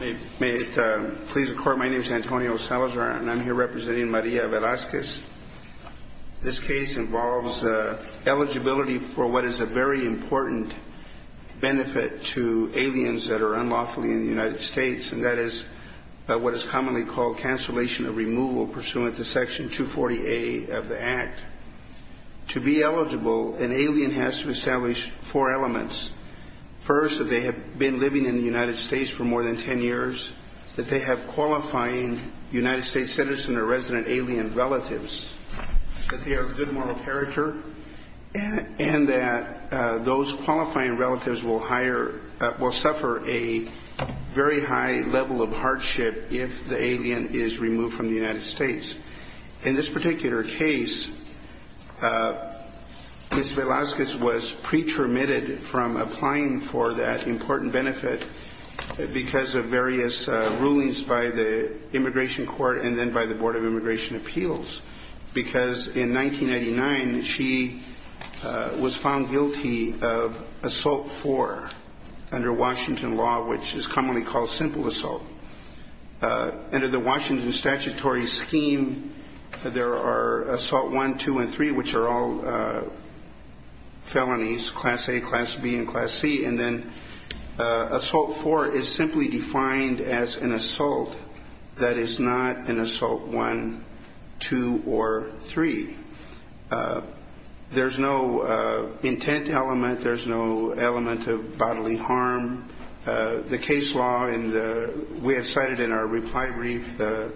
May it please the Court, my name is Antonio Salazar and I'm here representing Maria Velasquez. This case involves eligibility for what is a very important benefit to aliens that are unlawfully in the United States, and that is what is commonly called cancellation of has to establish four elements. First, that they have been living in the United States for more than 10 years, that they have qualifying United States citizen or resident alien relatives, that they are of good moral character, and that those qualifying relatives will suffer a very high level of hardship if the alien is removed from the United States. In this case, Maria Velasquez was pre-termitted from applying for that important benefit because of various rulings by the Immigration Court and then by the Board of Immigration Appeals because in 1999 she was found guilty of Assault 4 under Washington law which is commonly called simple assault. Under the Washington statutory scheme, there are Assault 1, 2, and 3 which are all felonies, Class A, Class B, and Class C, and then Assault 4 is simply defined as an assault that is not an Assault 1, 2, or 3. There's no intent element, there's no element of bodily harm. The case law in the, we have cited in our reply brief, the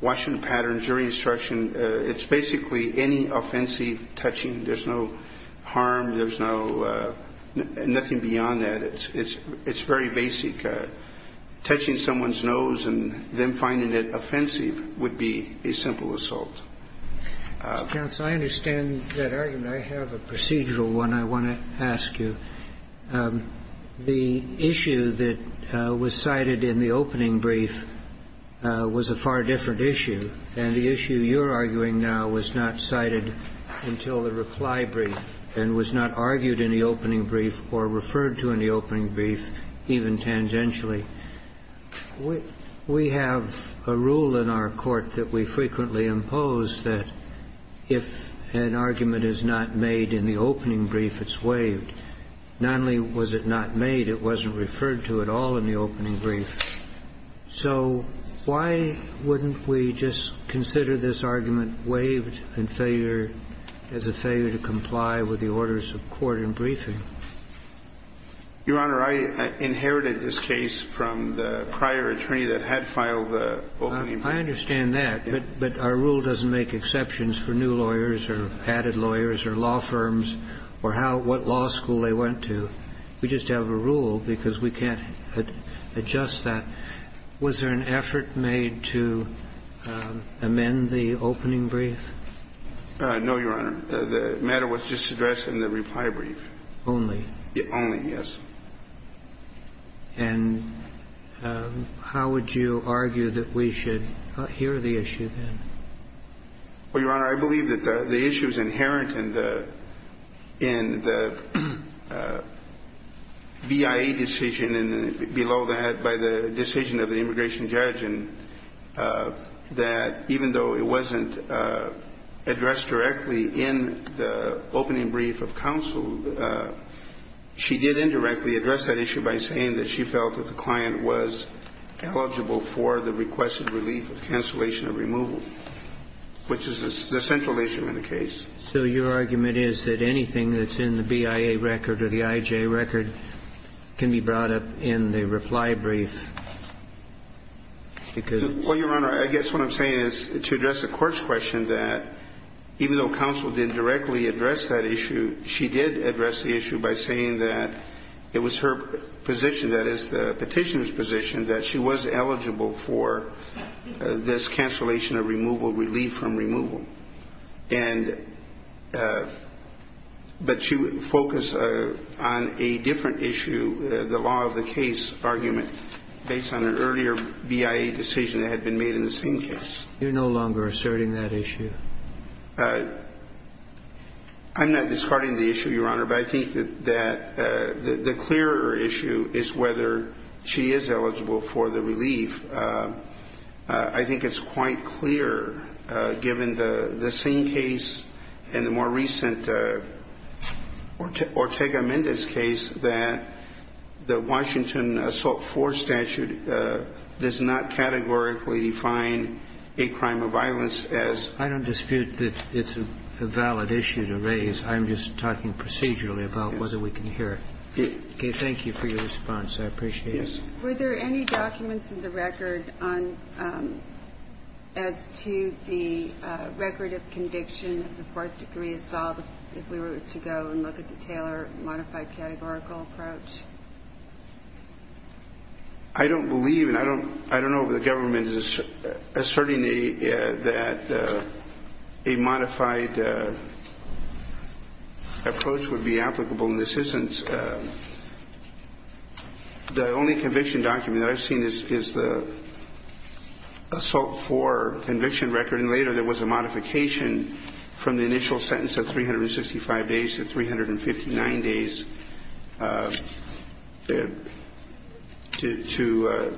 Washington pattern of jury instruction, it's basically any offensive touching. There's no harm, there's no, nothing beyond that. It's very basic. Touching someone's nose and then finding it offensive would be a simple assault. Justice Breyer, I understand that argument. I have a procedural one I want to ask you. The issue that was cited in the opening brief was a far different issue, and the issue you're arguing now was not cited until the reply brief and was not argued in the opening brief or referred to in the opening brief, even tangentially. We have a rule in our court that we frequently impose that if an argument is not made in the opening brief, it's waived. Not only was it not made, it wasn't referred to at all in the opening brief. So why wouldn't we just consider this argument waived and failure, as a failure to comply with the orders of court in briefing? Your Honor, I inherited this case from the prior attorney that had filed the opening brief. I understand that, but our rule doesn't make exceptions for new lawyers or added lawyers or law firms or how ‑‑ what law school they went to. We just have a rule because we can't adjust that. Was there an effort made to amend the opening brief? No, Your Honor. The matter was just addressed in the reply brief. Only? Only, yes. And how would you argue that we should hear the issue then? Well, Your Honor, I believe that the issue is inherent in the ‑‑ in the BIA decision and below that by the decision of the immigration judge, and that even though it wasn't addressed directly in the opening brief of counsel, she did indirectly address that issue by saying that she felt that the client was eligible for the requested relief of cancellation of removal, which is the central issue in the case. So your argument is that anything that's in the BIA record or the IJ record can be brought up in the reply brief because ‑‑ Well, Your Honor, I guess what I'm saying is to address the court's question that even though counsel didn't directly address that issue, she did address the issue by saying that it was her position, that is, the Petitioner's position, that she was in favor of the cancellation of removal, relief from removal, and ‑‑ but she would focus on a different issue, the law of the case argument, based on an earlier BIA decision that had been made in the same case. You're no longer asserting that issue? I'm not discarding the issue, Your Honor, but I think that the clearer issue is whether she is eligible for the relief. I think it's quite clear, given the same case and the more recent Ortega-Mendez case, that the Washington Assault IV statute does not categorically define a crime of violence as ‑‑ I don't dispute that it's a valid issue to raise. I'm just talking procedurally about whether we can hear it. Okay. Thank you for your response. I appreciate it. Yes. Were there any documents in the record on ‑‑ as to the record of conviction of the fourth degree assault, if we were to go and look at the Taylor modified categorical approach? I don't believe, and I don't know if the government is asserting that a modified approach would be applicable, and this isn't. The only conviction document that I've seen is the Assault IV conviction record, and later there was a modification from the initial sentence of 365 days to 359 days to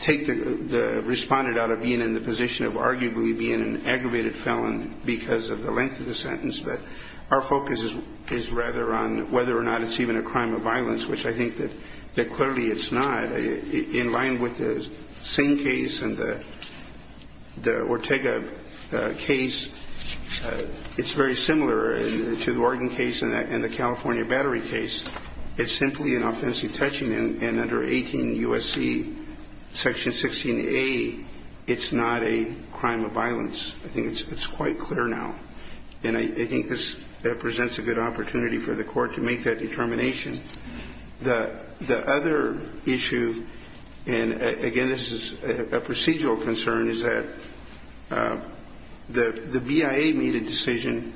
take the respondent out of being in the position of arguably being an aggravated felon because of the length of the sentence. But our focus is rather on whether or not it's even a crime of violence, which I think that clearly it's not. In line with the Singh case and the Ortega case, it's very similar to the Oregon case and the California Battery case. It's simply an offensive touching, and under 18 U.S.C. Section 16A, it's not a crime of violence. I think it's quite clear now, and I think this presents a good opportunity for the court to make that determination. The other issue, and again, this is a procedural concern, is that the BIA made a decision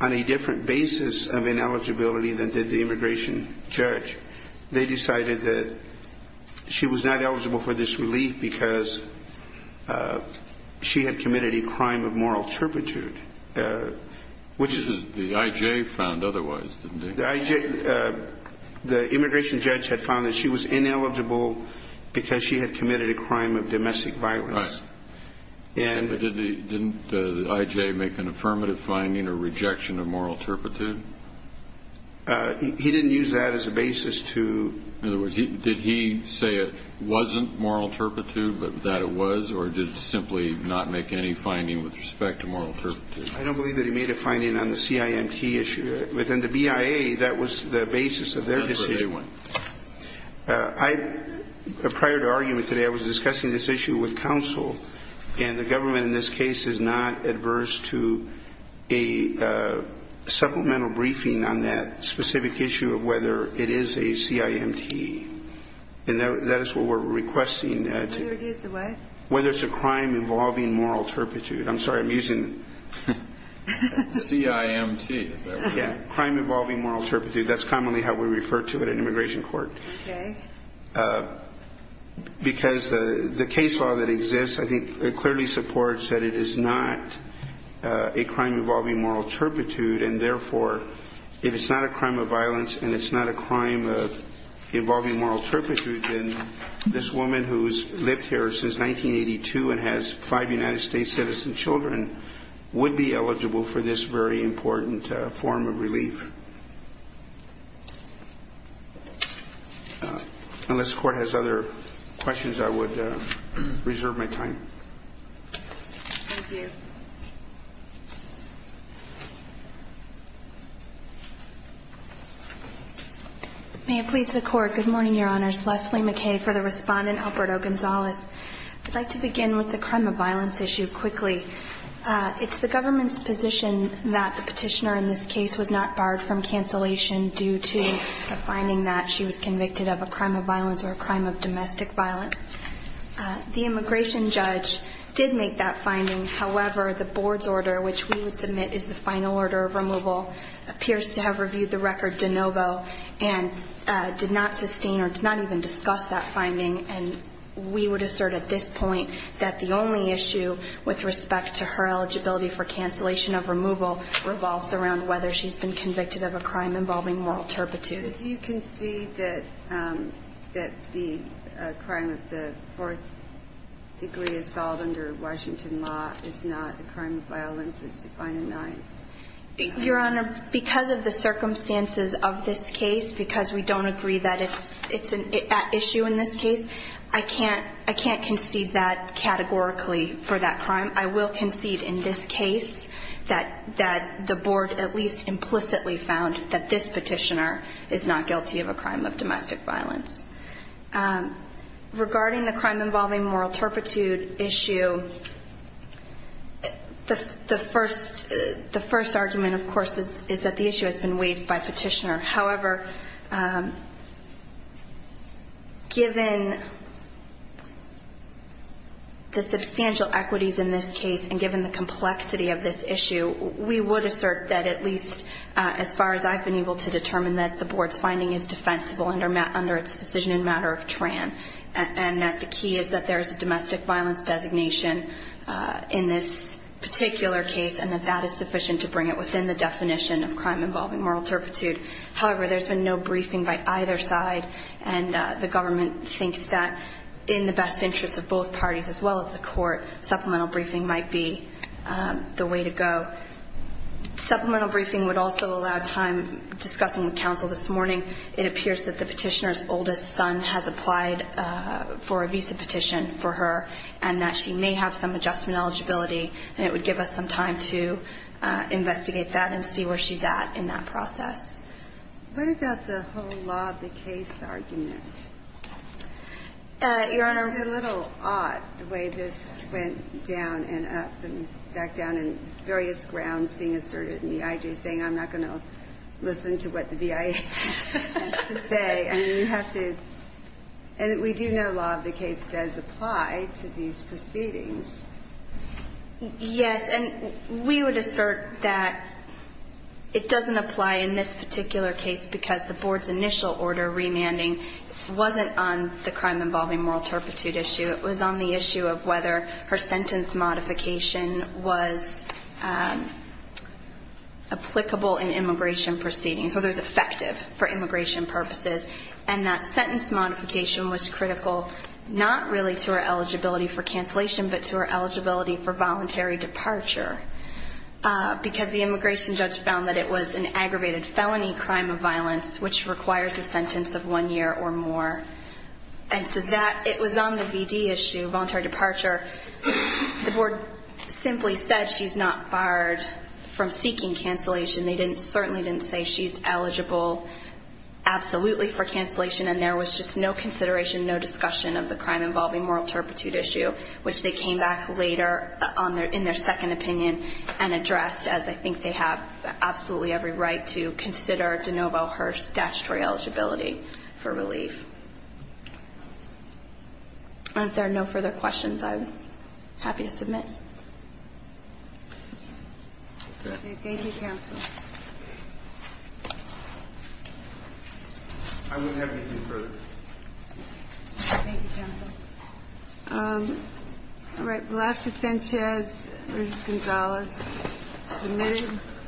on a different basis of ineligibility than did the immigration judge. They decided that she was not eligible for this relief because she had committed a crime of moral turpitude, which is... Which the IJ found otherwise, didn't it? The IJ, the immigration judge had found that she was ineligible because she had committed a crime of domestic violence. Right, but didn't the IJ make an affirmative finding or rejection of moral turpitude? He didn't use that as a basis to... In other words, did he say it wasn't moral turpitude, but that it was, or did it simply not make any finding with respect to moral turpitude? I don't believe that he made a finding on the CIMT issue. Within the BIA, that was the basis of their decision. Prior to our meeting today, I was discussing this issue with counsel, and the government in this case is not adverse to a supplemental briefing on that specific issue of whether it is a CIMT, and that is what we're requesting. Whether it is a what? Crime involving moral turpitude. I'm sorry, I'm using... CIMT, is that what it is? Yeah, crime involving moral turpitude. That's commonly how we refer to it in immigration court. Because the case law that exists, I think, clearly supports that it is not a crime involving moral turpitude, and therefore, if it's not a crime of violence and it's not a crime involving moral turpitude, then this woman who has lived here since 1982 and has five United States citizen children would be eligible for this very important form of relief. Unless the Court has other questions, I would reserve my time. Thank you. May it please the Court, good morning, Your Honors. Leslie McKay for the respondent, Alberto Gonzalez. I'd like to begin with the crime of violence issue quickly. It's the government's position that the petitioner in this case was not barred from cancellation due to a finding that she was convicted of a crime of violence or a crime of domestic violence. The immigration judge did make that finding, however, the board's order, which we would submit is the final order of removal, appears to have reviewed the record de novo and did not sustain or did not even discuss that finding, and we would assert at this point that the only issue with respect to her eligibility for cancellation of removal revolves around whether she's been convicted of a crime involving moral turpitude. Do you concede that the crime of the fourth degree is solved under Washington law, it's not a crime of violence, it's defined in 9th? Your Honor, because of the circumstances of this case, because we don't agree that it's an issue in this case, I can't concede that categorically for that crime. I will concede in this case that the board at least implicitly found that this petitioner is not guilty of a crime of domestic violence. Regarding the crime involving moral turpitude issue, the first argument, of course, is that the issue has been waived by petitioner. However, given the substantial equities in this case and given the complexity of this issue, we would assert that at least as far as I've been able to determine that the board's case is defensible under its decision in matter of TRAN and that the key is that there is a domestic violence designation in this particular case and that that is sufficient to bring it within the definition of crime involving moral turpitude. However, there's been no briefing by either side and the government thinks that in the best interest of both parties as well as the court, supplemental briefing might be the way to go. Supplemental briefing would also allow time discussing with counsel this morning. It appears that the petitioner's oldest son has applied for a visa petition for her and that she may have some adjustment eligibility and it would give us some time to investigate that and see where she's at in that process. What about the whole law of the case argument? Your Honor, it's a little odd the way this went down and up and back down in various grounds being asserted and the I.J. saying I'm not going to listen to what the BIA has to say. We do know law of the case does apply to these proceedings. Yes, and we would assert that it doesn't apply in this particular case because the board's initial order remanding wasn't on the crime involving moral turpitude issue. It was on the issue of whether her sentence modification was applicable in immigration proceedings, whether it was effective for immigration purposes and that sentence modification was critical not really to her eligibility for cancellation but to her eligibility for voluntary departure because the immigration judge found that it was an aggravated felony crime of violence which requires a sentence of one year or more. And so that, it was on the BD issue, voluntary departure, the board simply said she's not barred from seeking cancellation. They certainly didn't say she's eligible absolutely for cancellation and there was just no consideration, no discussion of the crime involving moral turpitude issue which they came back later in their second opinion and addressed as I think they have absolutely every right to consider de novo her statutory eligibility for relief. And if there are no further questions, I'm happy to submit. Thank you, counsel. I wouldn't have anything further. Thank you, counsel. All right, Velasquez-Sanchez versus Gonzalez. You're muted.